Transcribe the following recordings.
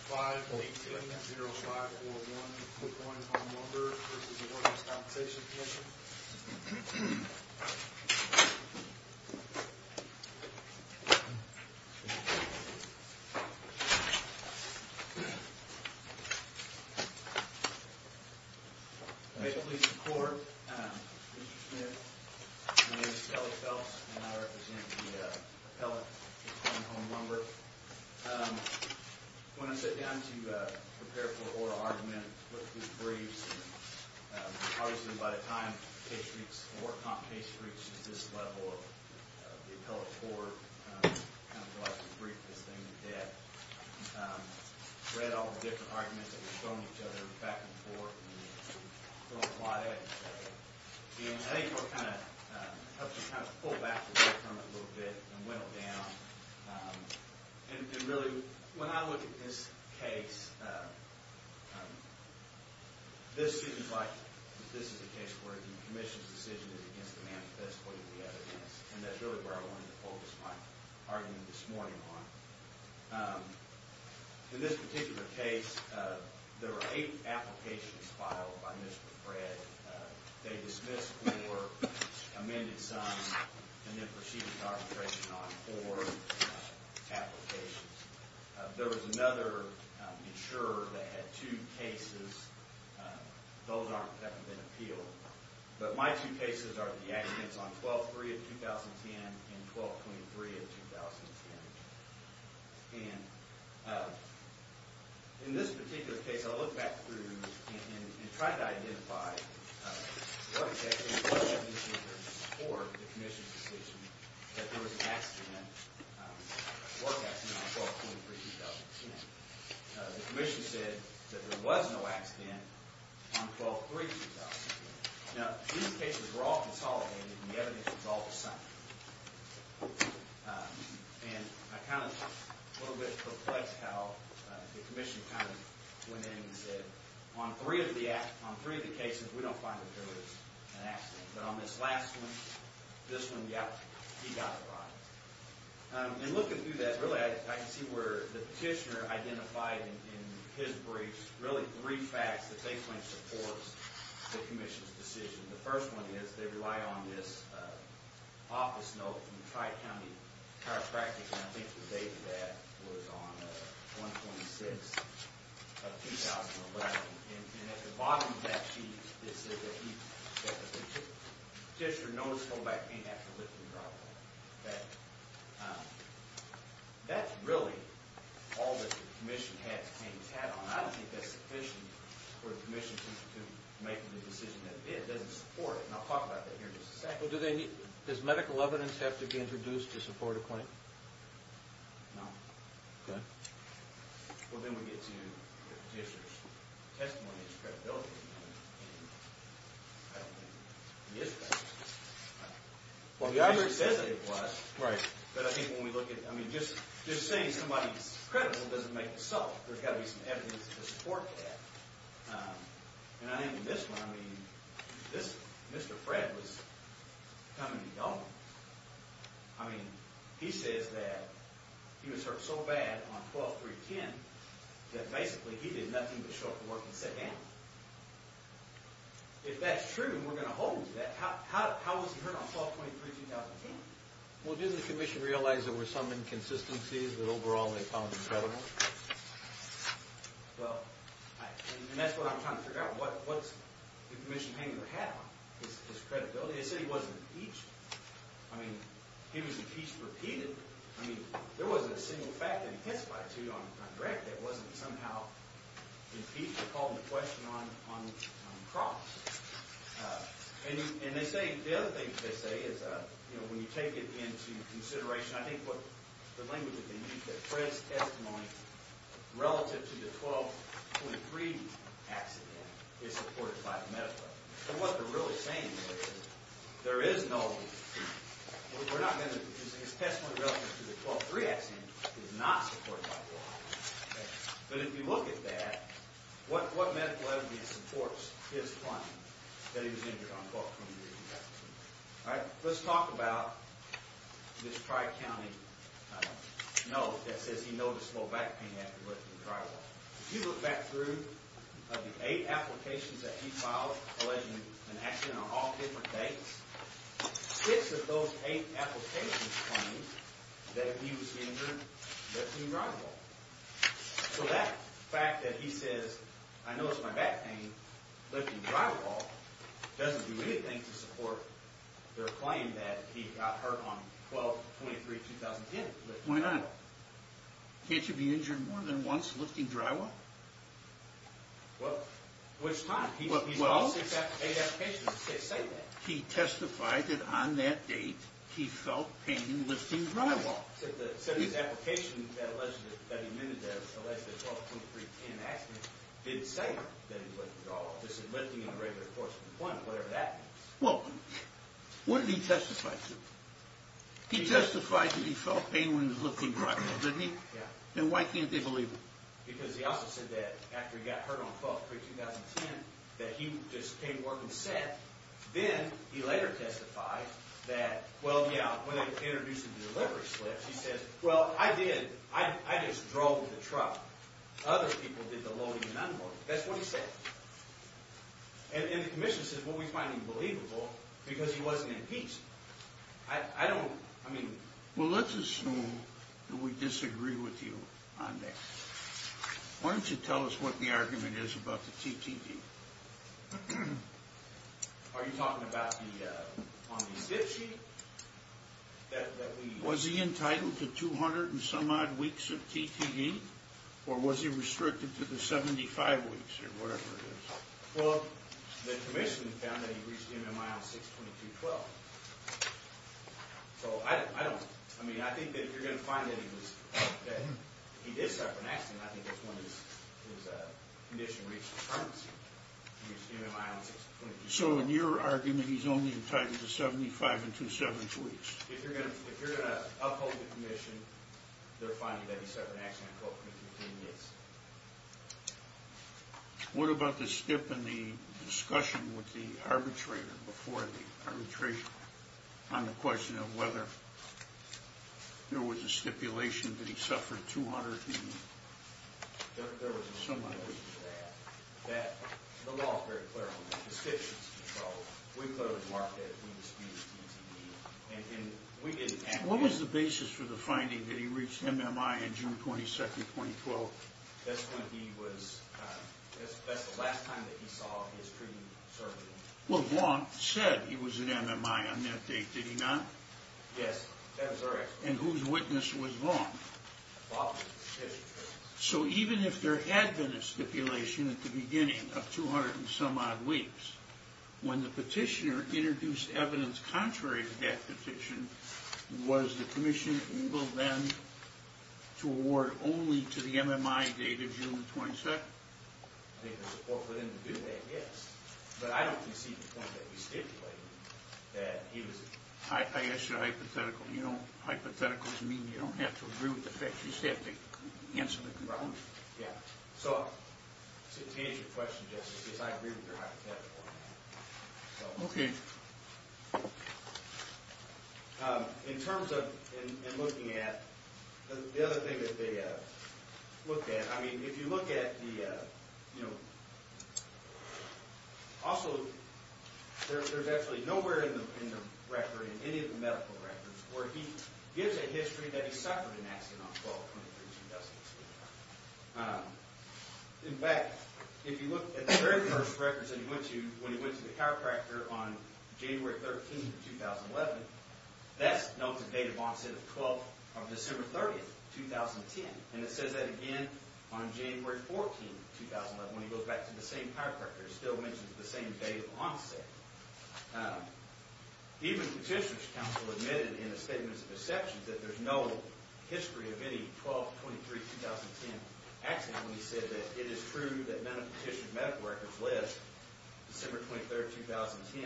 5-8-2-0-5-4-1. The Quuoin Home Lumber v. The Workers' Compensation Commission. May it please the Court, Mr. Smith, my name is Kelly Phelps and I represent the appellate of Quuoin Home Lumber. When I sat down to prepare for oral argument, look through briefs, and obviously by the time the case reached, the work comp case reached this level of the appellate court, kind of the last to brief this thing in depth, read all the different arguments that were thrown at each other back and forth, and I think we'll kind of pull back from it a little bit and whittle down. And really, when I look at this case, this seems like this is a case where the commission's decision is against the man that's putting the evidence, and that's really where I wanted to focus my argument this morning on. In this particular case, there were eight applications filed by Mr. Fred. They dismissed four, amended some, and then proceeded to arbitration on four applications. There was another insurer that had two cases. Those haven't been appealed. But my two cases are the accidents on 12-3 of 2010 and 12-23 of 2010. And in this particular case, I looked back through and tried to identify what exactly was the insurer's or the commission's decision that there was an accident, a work accident on 12-23 of 2010. The commission said that there was no accident on 12-3 of 2010. Now, these cases were all consolidated, and the evidence was all the same. And I'm kind of a little bit perplexed how the commission kind of went in and said, On three of the cases, we don't find that there was an accident. But on this last one, this one, yeah, he got it right. And looking through that, really, I can see where the petitioner identified in his briefs really three facts that they claim supports the commission's decision. The first one is they rely on this office note from the Tri-County Chiropractic, and I think the date of that was on 1-26 of 2011. And at the bottom of that sheet, it says that the petitioner knows full back he didn't have to live through the problem. That's really all that the commission has had on. And I don't think that's sufficient for the commission to make the decision that it did. It doesn't support it. And I'll talk about that here in just a second. Does medical evidence have to be introduced to support a claim? No. Okay. Well, then we get to the petitioner's testimony and his credibility. And I don't think he is credible. Well, he obviously says that he was. Right. But I think when we look at, I mean, just saying somebody's credible doesn't make it so. Well, there's got to be some evidence to support that. And I think in this one, I mean, Mr. Fred was coming and going. I mean, he says that he was hurt so bad on 12-3-10 that basically he did nothing but show up for work and sit down. If that's true and we're going to hold that, how was he hurt on 12-23-2010? Well, didn't the commission realize there were some inconsistencies that overall they found incredible? Well, and that's what I'm trying to figure out. What's the commission hanging their hat on is credibility. They said he wasn't impeached. I mean, he was impeached repeatedly. I mean, there wasn't a single fact that intensified it to you on direct that wasn't somehow impeached. They called him to question on cross. And they say the other thing they say is when you take it into consideration, I think the language that they use, that Fred's testimony relative to the 12-23 accident is supported by the medical evidence. So what they're really saying is there is no, we're not going to, his testimony relative to the 12-3 accident is not supported by the law. But if you look at that, what medical evidence supports his claim that he was injured on 12-23-2010? All right, let's talk about this Tri-County note that says he noticed low back pain after lifting the drywall. If you look back through the eight applications that he filed alleging an accident on all different dates, six of those eight applications claim that he was injured lifting drywall. So that fact that he says, I noticed my back pain lifting drywall doesn't do anything to support their claim that he got hurt on 12-23-2010 lifting drywall. Why not? Can't you be injured more than once lifting drywall? Well, which time? Well, he testified that on that date he felt pain lifting drywall. Well, what did he testify to? He testified that he felt pain when he was lifting drywall, didn't he? Yeah. Then why can't they believe him? Because he also said that after he got hurt on 12-23-2010 that he just came to work and sat. Then he later testified that, well, yeah, when they introduced the delivery slips, he said, well, I did. I just drove with a truck. Other people did the loading and unloading. That's what he said. And the commission said, well, we find him believable because he wasn't in peace. I don't, I mean. Well, let's assume that we disagree with you on that. Why don't you tell us what the argument is about the TTE? Are you talking about the, on the zip sheet? Was he entitled to 200 and some odd weeks of TTE? Or was he restricted to the 75 weeks or whatever it is? Well, the commission found that he reached MMI on 6-22-12. So I don't, I mean, I think that if you're going to find that he was, that he did suffer an accident, I think that's when his condition reached its permanency. He reached MMI on 6-22-12. So in your argument, he's only entitled to 75 and 272 weeks? If you're going to uphold the commission, they're finding that he suffered an accident, quote, within 15 days. What about the stip and the discussion with the arbitrator before the arbitration on the question of whether there was a stipulation that he suffered 200 TTE? There was a similar issue to that. That the law is very clear on that. The station's in control. We closed market. We disputed TTE. And we didn't have to. What was the basis for the finding that he reached MMI on June 22, 2012? Well, Vaughn said he was at MMI on that date, did he not? Yes. And whose witness was Vaughn? So even if there had been a stipulation at the beginning of 200 and some odd weeks, when the petitioner introduced evidence contrary to that petition, was the commission able then to award only to the MMI date of June 22nd? I think the support for them to do that, yes. But I don't see the point that you stipulated that he was... I asked you a hypothetical. You know, hypotheticals mean you don't have to agree with the facts. You just have to answer the problem. Yeah. So to answer your question, Justice, I agree with your hypothetical on that. Okay. In terms of in looking at the other thing that they looked at, I mean, if you look at the, you know... Also, there's actually nowhere in the record, in any of the medical records, where he gives a history that he suffered an accident on 12-23-2012. In fact, if you look at the very first records that he went to when he went to the chiropractor on January 13th, 2011, that's known to date of onset of 12th of December 30th, 2010. And it says that again on January 14th, 2011, when he goes back to the same chiropractor. It still mentions the same date of onset. Even Petitioner's Council admitted in a statement of exceptions that there's no history of any 12-23-2010 accident when he said that it is true that none of Petitioner's medical records list December 23rd, 2010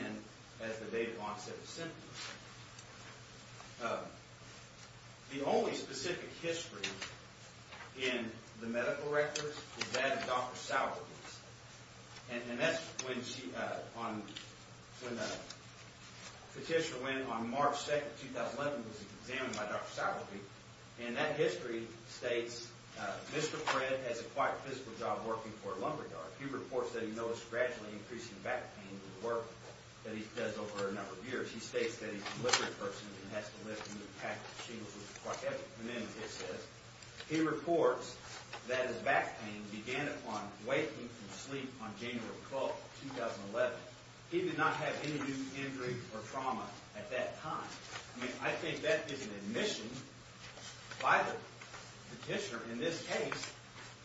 as the date of onset of symptoms. The only specific history in the medical records is that of Dr. Sauer. And that's when Petitioner went on March 2nd, 2011, when he was examined by Dr. Sauer. And that history states, Mr. Fred has a quiet physical job working for a lumberyard. He reports that he noticed gradually increasing back pain in the work that he does over a number of years. He states that he's a deliberate person and has to live in a pack of shingles which is quite heavy. And then it says, he reports that his back pain began upon waking from sleep on January 12th, 2011. He did not have any new injury or trauma at that time. I mean, I think that is an admission by the Petitioner in this case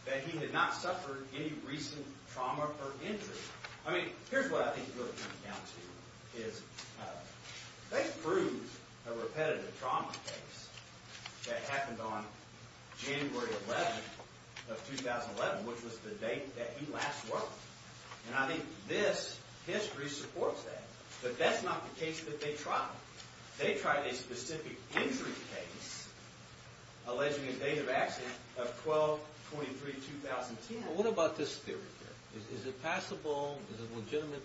that he had not suffered any recent trauma or injury. I mean, here's what I think he really came down to, is they proved a repetitive trauma case that happened on January 11th of 2011, which was the date that he last worked. And I think this history supports that. But that's not the case that they tried. They tried a specific injury case, alleging a date of accident of 12-23-2010. What about this theory here? Is it possible, is it a legitimate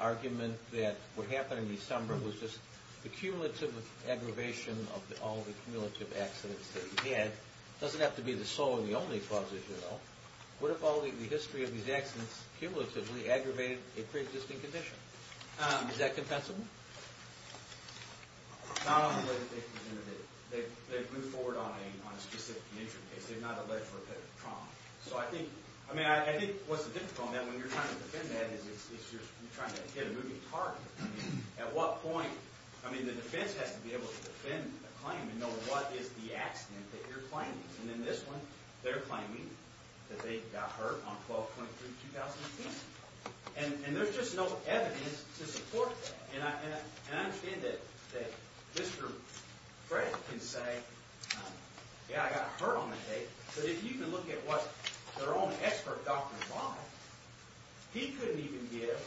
argument, that what happened in December was just the cumulative aggravation of all the cumulative accidents that he had? It doesn't have to be the sole and the only cause, as you know. What if all the history of these accidents cumulatively aggravated a pre-existing condition? Is that compensable? Not on the way that they presented it. They moved forward on a specific injury case. They did not allege repetitive trauma. I think what's difficult on that, when you're trying to defend that, is you're trying to hit a moving target. At what point? I mean, the defense has to be able to defend a claim and know what is the accident that you're claiming. And in this one, they're claiming that they got hurt on 12-23-2010. And there's just no evidence to support that. And I understand that this group, Fred, can say, yeah, I got hurt on that date. But if you can look at what their own expert, Dr. Bond, he couldn't even give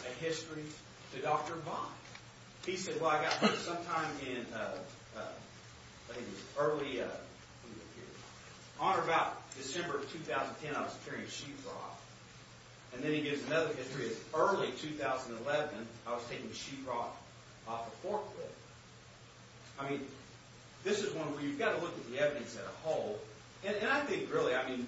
a history to Dr. Bond. He said, well, I got hurt sometime in, I think it was early, on or about December of 2010, I was carrying a sheetrock. And then he gives another history of early 2011, I was taking the sheetrock off a forklift. I mean, this is one where you've got to look at the evidence as a whole. And I think, really, I mean,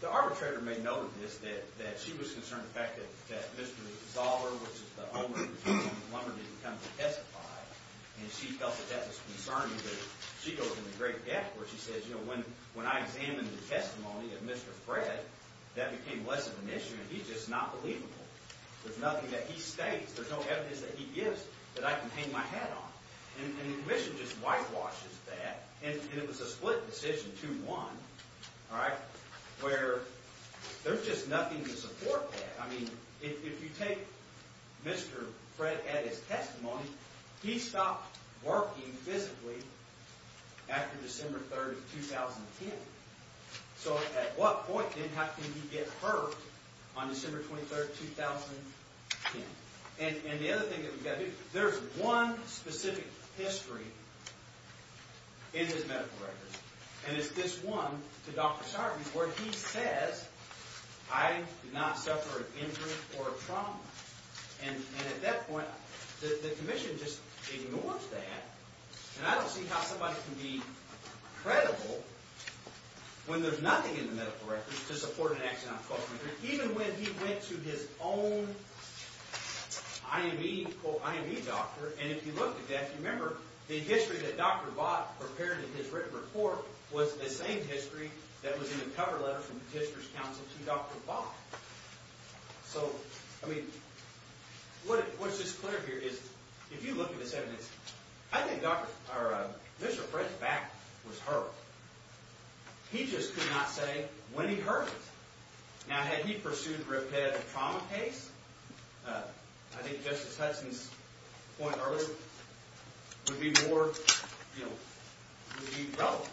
the arbitrator may know this, that she was concerned with the fact that Mr. Zoller, which is the owner of the Lumber, didn't come to testify. And she felt that that was concerning, but she goes into great depth where she says, you know, when I examined the testimony of Mr. Fred, that became less of an issue. And he's just not believable. There's nothing that he states. There's no evidence that he gives that I can hang my hat on. And the commission just whitewashes that. And it was a split decision, 2-1, all right, where there's just nothing to support that. I mean, if you take Mr. Fred at his testimony, he stopped working physically after December 3, 2010. So at what point, then, how can he get hurt on December 23, 2010? And the other thing that we've got to do, there's one specific history in his medical records, and it's this one to Dr. Sarbanes where he says, I did not suffer an injury or a trauma. And at that point, the commission just ignores that. And I don't see how somebody can be credible when there's nothing in the medical records to support an accident on December 23, even when he went to his own I.M.E., quote, I.M.E. doctor. And if you look at that, remember, the history that Dr. Vaught prepared in his written report was the same history that was in the cover letter from the Tister's Council to Dr. Vaught. So, I mean, what's just clear here is, if you look at this evidence, I think Mr. Fred's back was hurt. He just could not say when he hurt it. Now, had he pursued repetitive trauma case, I think Justice Hudson's point earlier would be more, you know, relevant.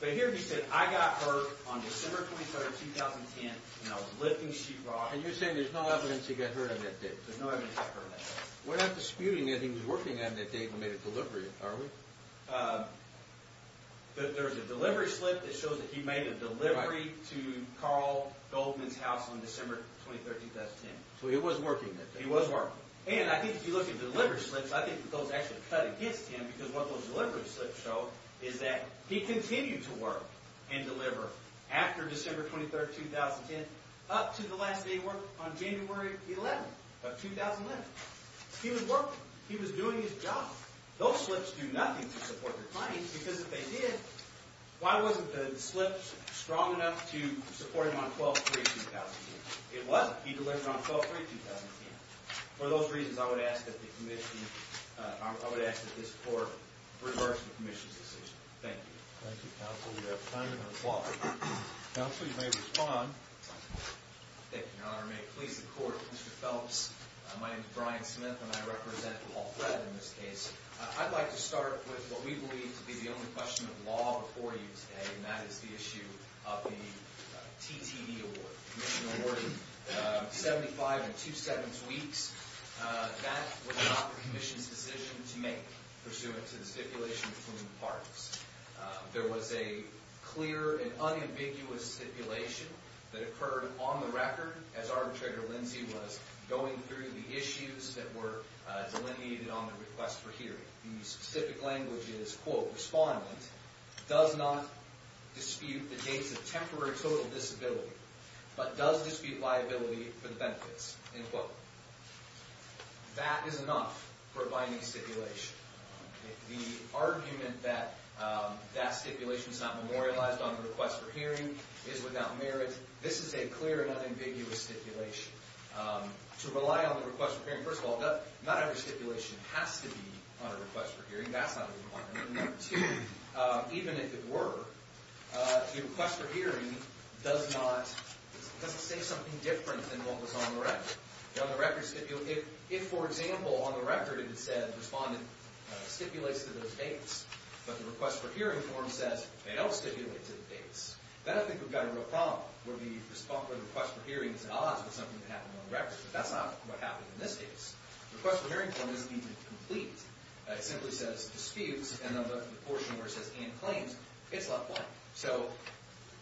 But here he said, I got hurt on December 23, 2010, and I was lifting sheetrock. And you're saying there's no evidence he got hurt on that day? There's no evidence he got hurt on that day. We're not disputing that he was working on that day and made a delivery, are we? There's a delivery slip that shows that he made a delivery to Carl Goldman's house on December 23, 2010. So he was working that day? He was working. And I think if you look at the delivery slips, I think those actually cut against him, because what those delivery slips show is that he continued to work and deliver after December 23, 2010, up to the last day of work on January 11 of 2011. He was working. He was doing his job. Those slips do nothing to support your claims, because if they did, why wasn't the slip strong enough to support him on December 23, 2010? It wasn't. He delivered on December 23, 2010. For those reasons, I would ask that the Commission, I would ask that this Court reverse the Commission's decision. Thank you. Thank you, Counsel. We have time for another question. Counsel, you may respond. Thank you, Your Honor. May it please the Court, Mr. Phelps, my name is Brian Smith, and I represent Paul Thread in this case. I'd like to start with what we believe to be the only question of law before you today, and that is the issue of the TTE award. Commission awarded 75 and two-sevenths weeks. That was not the Commission's decision to make pursuant to the stipulation between the parties. There was a clear and unambiguous stipulation that occurred on the record as Arbitrator Lindsey was going through the issues that were delineated on the request for hearing. The specific language is, quote, Respondent does not dispute the dates of temporary total disability, but does dispute liability for the benefits, end quote. That is enough for a binding stipulation. The argument that that stipulation is not memorialized on the request for hearing is without merit. This is a clear and unambiguous stipulation. To rely on the request for hearing, first of all, not every stipulation has to be on a request for hearing. That's not a requirement. Number two, even if it were, the request for hearing doesn't say something different than what was on the record. On the record, if, for example, on the record, it said Respondent stipulates to those dates, but the request for hearing form says they don't stipulate to the dates, then I think we've got a real problem, where the response for the request for hearing is at odds with something that happened on the record. But that's not what happened in this case. The request for hearing form doesn't even complete. It simply says disputes, and then the portion where it says and claims, it's left blank. So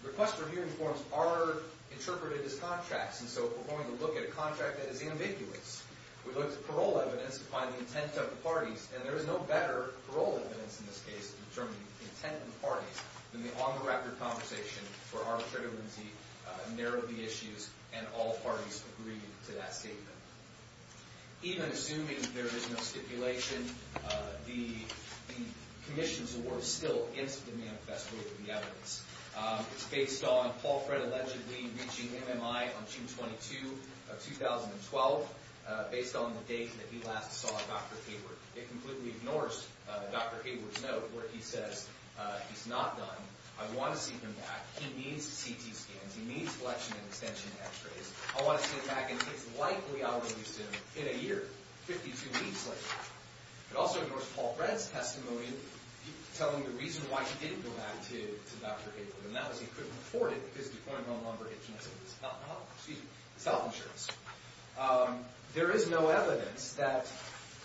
request for hearing forms are interpreted as contracts, and so if we're going to look at a contract that is ambiguous, we look at the parole evidence to find the intent of the parties, and there is no better parole evidence in this case to determine the intent of the parties than the on-the-record conversation where arbitrator Lindsay narrowed the issues and all parties agreed to that statement. Even assuming there is no stipulation, the commission's award is still in the manifesto of the evidence. It's based on Paul Fred allegedly reaching MMI on June 22, 2012, based on the date that he last saw Dr. Hayward. It completely ignores Dr. Hayward's note where he says he's not done, I want to see him back, he needs CT scans, he needs flexion and extension x-rays, I want to see him back, and it's likely I'll release him in a year, 52 weeks later. It also ignores Paul Fred's testimony telling the reason why he didn't go back to Dr. Hayward, and that was he couldn't afford it because he'd deployed a wrong number and canceled his self-insurance. There is no evidence that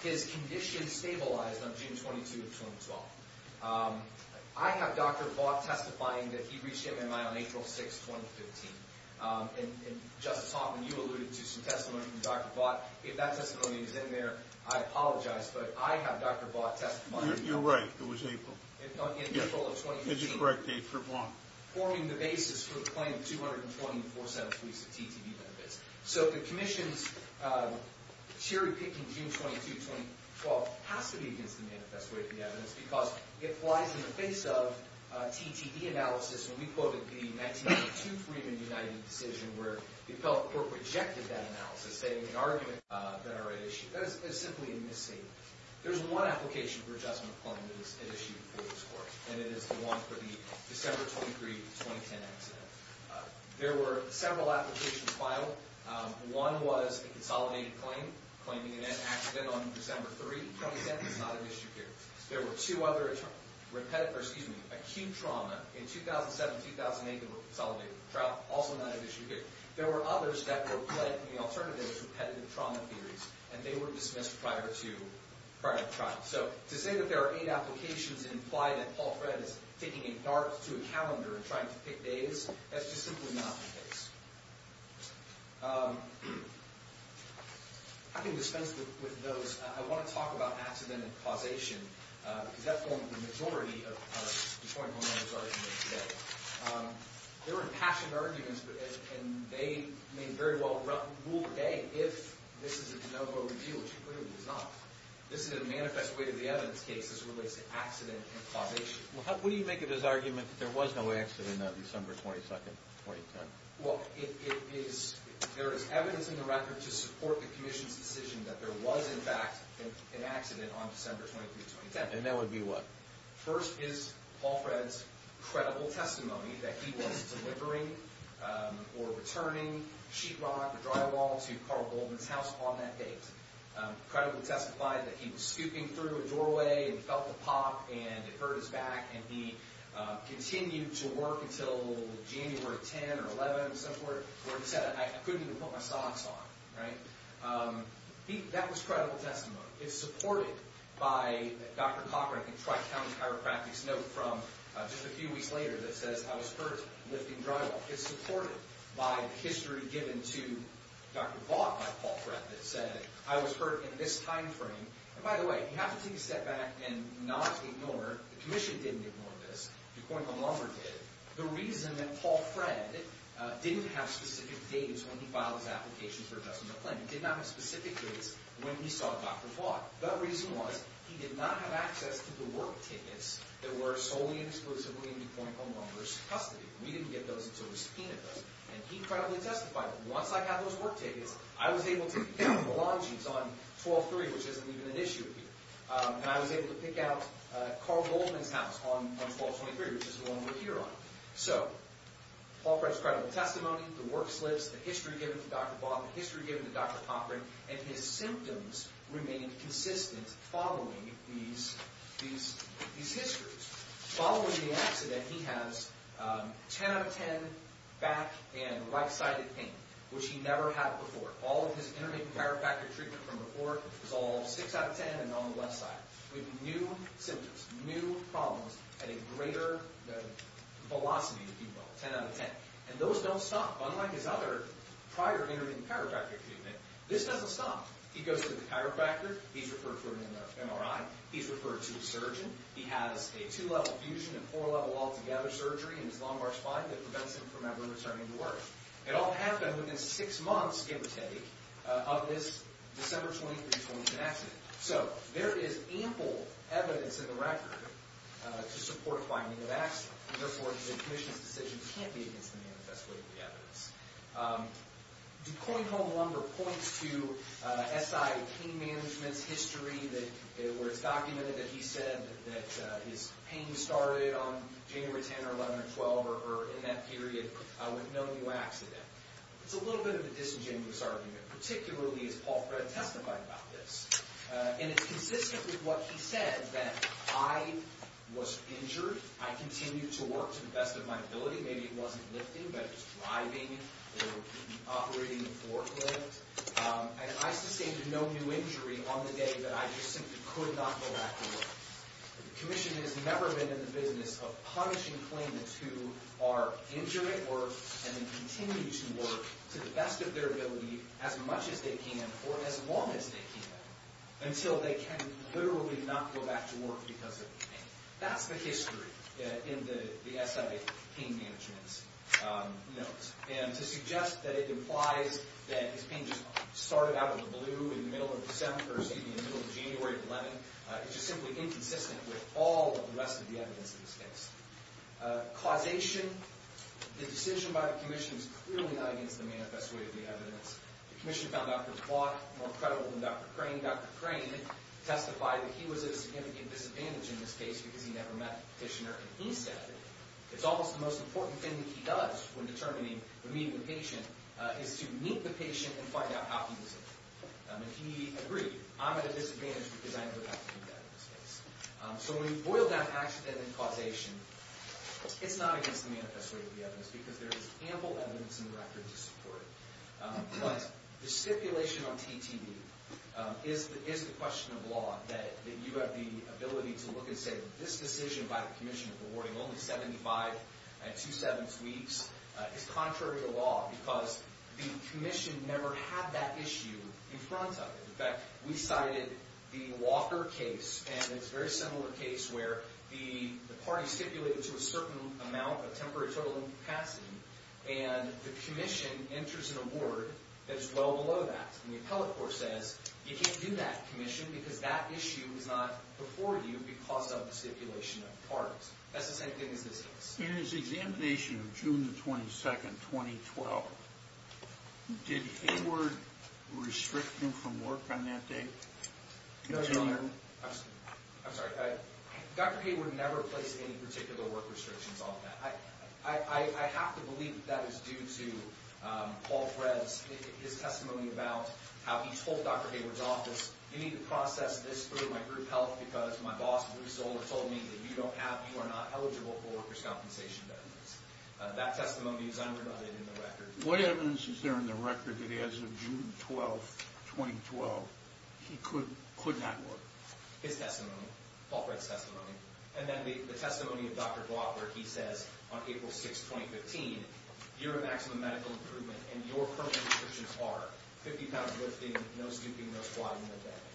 his condition stabilized on June 22, 2012. I have Dr. Vaught testifying that he reached MMI on April 6, 2015, and Justice Hoffman, you alluded to some testimony from Dr. Vaught. If that testimony is in there, I apologize, but I have Dr. Vaught testifying. You're right, it was April. In April of 2015. Yes, that's correct, April 1. Forming the basis for the claim of 224 set of weeks of TTB benefits. So the commission's cherry-picking June 22, 2012 has to be against the manifesto of the evidence because it flies in the face of TTB analysis. When we quoted the 1982 Freeman United decision where the appellate court rejected that analysis, stating the argument that I already issued. That is simply a misstatement. There's one application for adjustment claim that is issued for this court, and it is the one for the December 23, 2010 accident. There were several applications filed. One was a consolidated claim, claiming an accident on December 3, 2010. That is not an issue here. There were two other acute trauma in 2007 and 2008 that were consolidated in the trial. Also not an issue here. There were others that were plagued in the alternative repetitive trauma theories, and they were dismissed prior to the trial. So to say that there are eight applications that imply that Paul Fred is taking a dart to a calendar and trying to pick days, that's just simply not the case. I can dispense with those. I want to talk about accident and causation, because that formed the majority of Detroit Homeowners' arguments today. They were impassioned arguments, and they may very well rule today if this is a de novo review, which it clearly is not. This is a manifest way to the evidence case as it relates to accident and causation. What do you make of this argument that there was no accident on December 22, 2010? Well, there is evidence in the record to support the commission's decision that there was, in fact, an accident on December 23, 2010. And that would be what? First is Paul Fred's credible testimony that he was delivering or returning sheetrock or drywall to Carl Goldman's house on that date. Credibly testified that he was scooping through a doorway and felt a pop, and it hurt his back, and he continued to work until January 10 or 11, where he said, I couldn't even put my socks on. That was credible testimony. It's supported by Dr. Cochran, I think, Tri-County Chiropractic's note from just a few weeks later that says, I was hurt lifting drywall. It's supported by the history given to Dr. Vaughn by Paul Fred that said, I was hurt in this time frame. And by the way, you have to take a step back and not ignore, the commission didn't ignore this, DuPont and Lumber did, the reason that Paul Fred didn't have specific dates when he filed his application for adjustment of claim. He did not have specific dates when he saw Dr. Vaughn. The reason was, he did not have access to the work tickets that were solely and exclusively in DuPont and Lumber's custody. We didn't get those until we subpoenaed them. And he credibly testified, once I got those work tickets, I was able to pick up the long jeans on 12-3, which isn't even an issue here. And I was able to pick out Carl Goldman's house on 12-23, which is the one we're here on. So, Paul Fred's credible testimony, the work slips, the history given to Dr. Vaughn, the history given to Dr. Cochran, and his symptoms remained consistent following these histories. Following the accident, he has 10 out of 10 back and right-sided pain, which he never had before. All of his intermittent chiropractic treatment from before was all 6 out of 10 and on the left side. With new symptoms, new problems, at a greater velocity than DuPont, 10 out of 10. And those don't stop. Unlike his other prior intermittent chiropractic treatment, this doesn't stop. He goes to the chiropractor, he's referred for an MRI, he's referred to a surgeon, he has a two-level fusion and four-level altogether surgery in his lumbar spine that prevents him from ever returning to work. It all happened within 6 months, give or take, of this December 23, 2010 accident. So, there is ample evidence in the record to support finding of accident. Therefore, the commission's decision can't be against the manifest way of the evidence. DuPont home lumbar points to SI pain management's history where it's documented that he said that his pain started on January 10 or 11 or 12 or in that period with no new accident. It's a little bit of a disingenuous argument, particularly as Paul Fred testified about this. And it's consistent with what he said, that I was injured, I continued to work to the best of my ability. Maybe it wasn't lifting, but it was driving or operating the forklift. And I sustained no new injury on the day that I just simply could not go back to work. The commission has never been in the business of punishing claimants who are injured at work and then continue to work to the best of their ability as much as they can or as long as they can until they can literally not go back to work because of the pain. That's the history in the SI pain management's notes. And to suggest that it implies that his pain just started out in the blue in the middle of December, excuse me, in the middle of January or 11, it's just simply inconsistent with all of the rest of the evidence in this case. Causation, the decision by the commission is clearly not against the manifest way of the evidence. The commission found Dr. DuPont more credible than Dr. Crane. Dr. DuPont and Dr. Crane testified that he was at a significant disadvantage in this case because he never met the petitioner. And he said it's almost the most important thing that he does when determining the meaning of the patient is to meet the patient and find out how he was injured. And he agreed, I'm at a disadvantage because I never got to meet that in this case. So when we boil down accident and causation, it's not against the manifest way of the evidence because there is ample evidence in the record to support it. But the stipulation on TTE is the question of law, that you have the ability to look and say that this decision by the commission of awarding only 75 and two-sevenths weeks is contrary to law because the commission never had that issue in front of it. In fact, we cited the Walker case, and it's a very similar case where the party stipulated to a certain amount of temporary total incapacity, and the commission enters an award that is well below that. And the appellate court says you can't do that, commission, because that issue is not before you because of the stipulation of the parties. That's the same thing as this case. In his examination of June 22, 2012, did Hayward restrict him from work on that day? I'm sorry. Dr. Hayward never placed any particular work restrictions on that. I have to believe that is due to Paul Fred's testimony about how he told Dr. Hayward's office, you need to process this through my group health because my boss, Bruce Zoller, told me that you are not eligible for workers' compensation benefits. That testimony is unrebutted in the record. What evidence is there in the record that as of June 12, 2012, he could not work? His testimony, Paul Fred's testimony. And then the testimony of Dr. Bodd, where he says on April 6, 2015, you're a maximum medical improvement and your current restrictions are 50 pounds lifting, no snooping, no squatting, no bedding.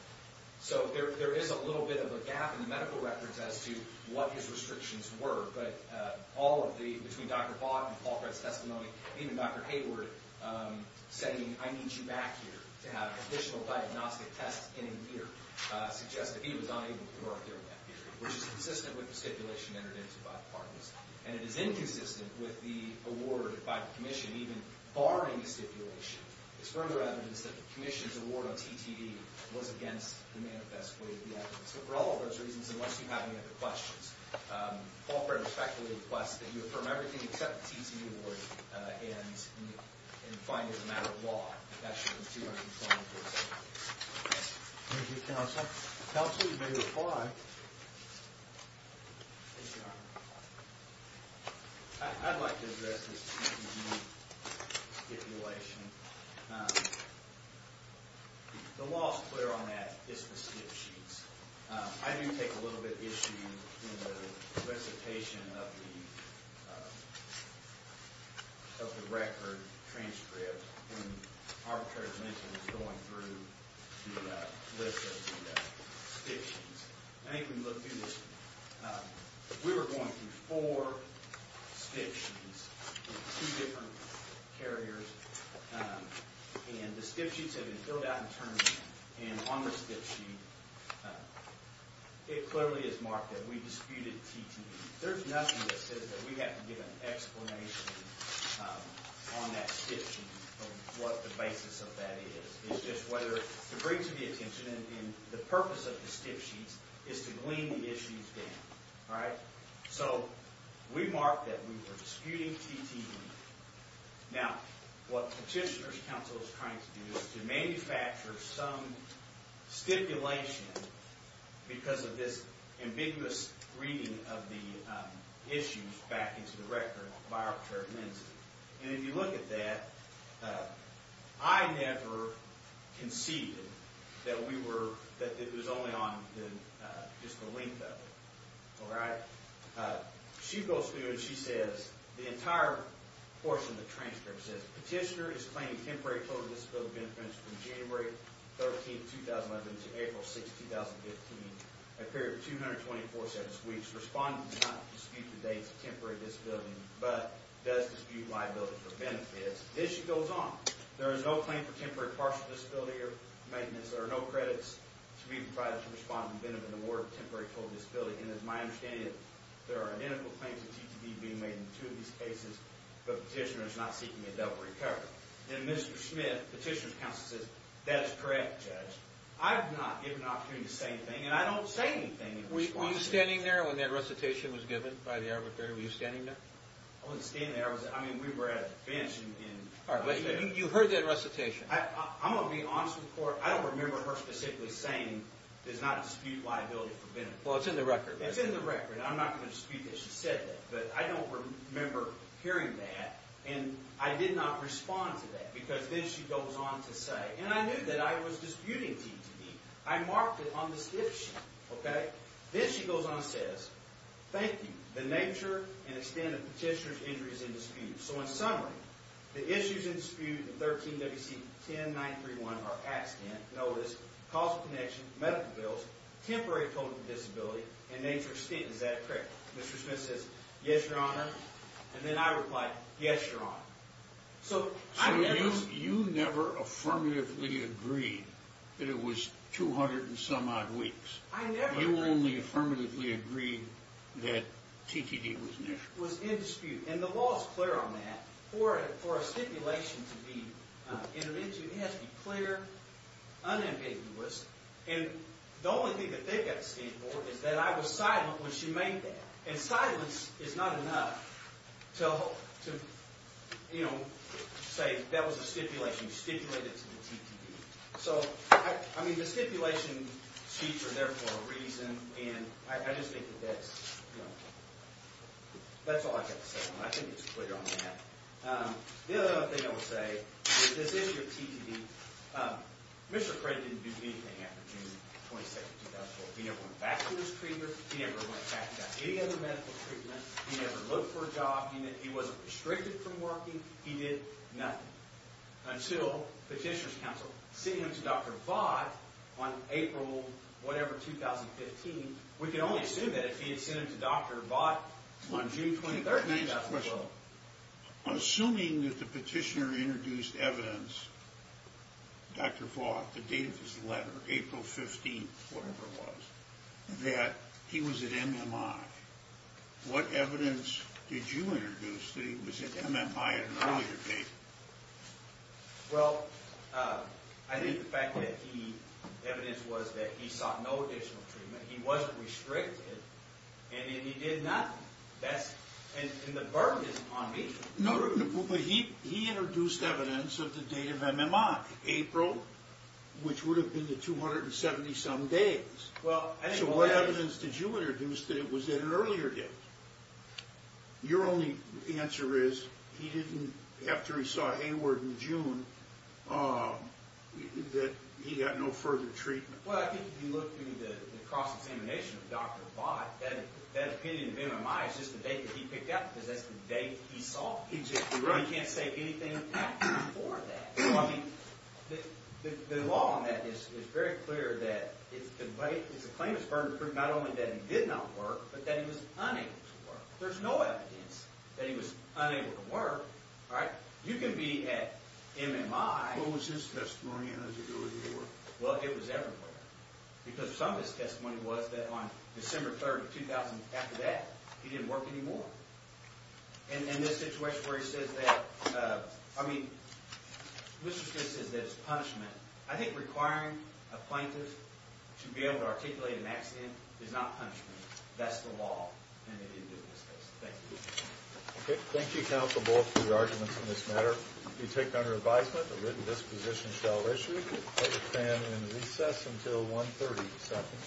So there is a little bit of a gap in the medical records as to what his restrictions were, but between Dr. Bodd and Paul Fred's testimony, even Dr. Hayward saying, I need you back here to have additional diagnostic tests in here, suggests that he was not able to work during that period, which is consistent with the stipulation entered into by the parties. And it is inconsistent with the award by the commission, even barring the stipulation. There's further evidence that the commission's award on TTE was against the manifest way of the evidence. So for all of those reasons, unless you have any other questions, Paul Fred respectfully requests that you affirm everything except the TTE award and find it a matter of law. Thank you, Counsel. Counsel, you may reply. Yes, Your Honor. I'd like to address this TTE stipulation. The law is clear on that, it's the skip sheets. I do take a little bit issue in the solicitation of the record transcript when Arbitrator Linton was going through the list of the skip sheets. I think when you look through this, we were going through four skip sheets in two different carriers, and the skip sheets had been filled out in turn. And on the skip sheet, it clearly is marked that we disputed TTE. There's nothing that says that we have to give an explanation on that skip sheet of what the basis of that is. It's just whether to bring to the attention, and the purpose of the skip sheets is to glean the issues down. So we mark that we were disputing TTE. Now, what Petitioner's Counsel is trying to do is to manufacture some stipulation because of this ambiguous reading of the issues back into the record by Arbitrator Linton. And if you look at that, I never conceded that it was only on just the length of it. All right? She goes through and she says the entire portion of the transcript says Petitioner is claiming temporary total disability benefits from January 13, 2011 to April 6, 2015, a period of 224 sentence weeks. Respondent does not dispute the dates of temporary disability, but does dispute liability for benefits. The issue goes on. There is no claim for temporary partial disability or maintenance. There are no credits to be provided to Respondent in the order of temporary total disability. And it's my understanding that there are identical claims of TTE being made in two of these cases, but Petitioner is not seeking a double recovery. And Mr. Smith, Petitioner's Counsel, says that is correct, Judge. I have not given opportunity to say anything, and I don't say anything in response to that. Were you standing there when that recitation was given by the Arbitrator? Were you standing there? I wasn't standing there. I mean, we were at a bench. All right, but you heard that recitation. I'm going to be honest with the Court. I don't remember her specifically saying there's not a dispute liability for benefits. Well, it's in the record. It's in the record. I'm not going to dispute that she said that. But I don't remember hearing that, and I did not respond to that. Because then she goes on to say, and I knew that I was disputing TTE. I marked it on the skip sheet. Okay? Then she goes on and says, thank you. The nature and extent of Petitioner's injury is in dispute. So in summary, the issues in dispute in 13 WC 1093.1 are accident, notice, causal connection, medical bills, temporary total disability, and nature of stint. Is that correct? Mr. Smith says, yes, Your Honor. And then I replied, yes, Your Honor. So I never. So you never affirmatively agreed that it was 200 and some odd weeks. I never. You only affirmatively agreed that TTE was an issue. Was in dispute. And the law is clear on that. For a stipulation to be intervened to, it has to be clear, unambiguous. And the only thing that they've got to stand for is that I was silent when she made that. And silence is not enough to, you know, say that was a stipulation. You stipulated it to the TTE. So, I mean, the stipulation sheets are there for a reason. And I just think that that's, you know, that's all I've got to say on that. I think it's clear on that. The other thing I will say is this issue of TTE. Mr. Fred didn't do anything after June 26, 2004. He never went back to his treatment. He never went back and got any other medical treatment. He never looked for a job. He wasn't restricted from working. He did nothing. Until Petitioner's Counsel sent him to Dr. Vought on April, whatever, 2015. I mean, we can only assume that if he had sent him to Dr. Vought on June 23rd. Assuming that the Petitioner introduced evidence, Dr. Vought, the date of his letter, April 15th, whatever it was, that he was at MMI, what evidence did you introduce that he was at MMI at an earlier date? Well, I think the fact that the evidence was that he sought no additional treatment. He wasn't restricted. And then he did nothing. And the burden is on me. No, but he introduced evidence of the date of MMI, April, which would have been the 270-some days. So what evidence did you introduce that it was at an earlier date? Your only answer is he didn't, after he saw Hayward in June, that he got no further treatment. Well, I think if you look through the cross-examination of Dr. Vought, that opinion of MMI is just the date that he picked up. Because that's the date he sought. Exactly right. You can't say anything before that. The law on that is very clear that it's a claimant's burden to prove not only that he did not work, but that he was unable to work. There's no evidence that he was unable to work. You can be at MMI. What was his testimony and his ability to work? Well, it was everywhere. Because some of his testimony was that on December 3rd of 2000, after that, he didn't work anymore. In this situation where he says that, I mean, Mr. Stitt says that it's punishment. I think requiring a plaintiff to be able to articulate an accident is not punishment. That's the law. And they didn't do this case. Thank you. Okay. Thank you, Counsel Bullock, for your arguments in this matter. It will be taken under advisement that this position shall issue. And it will stand in recess until 1.30.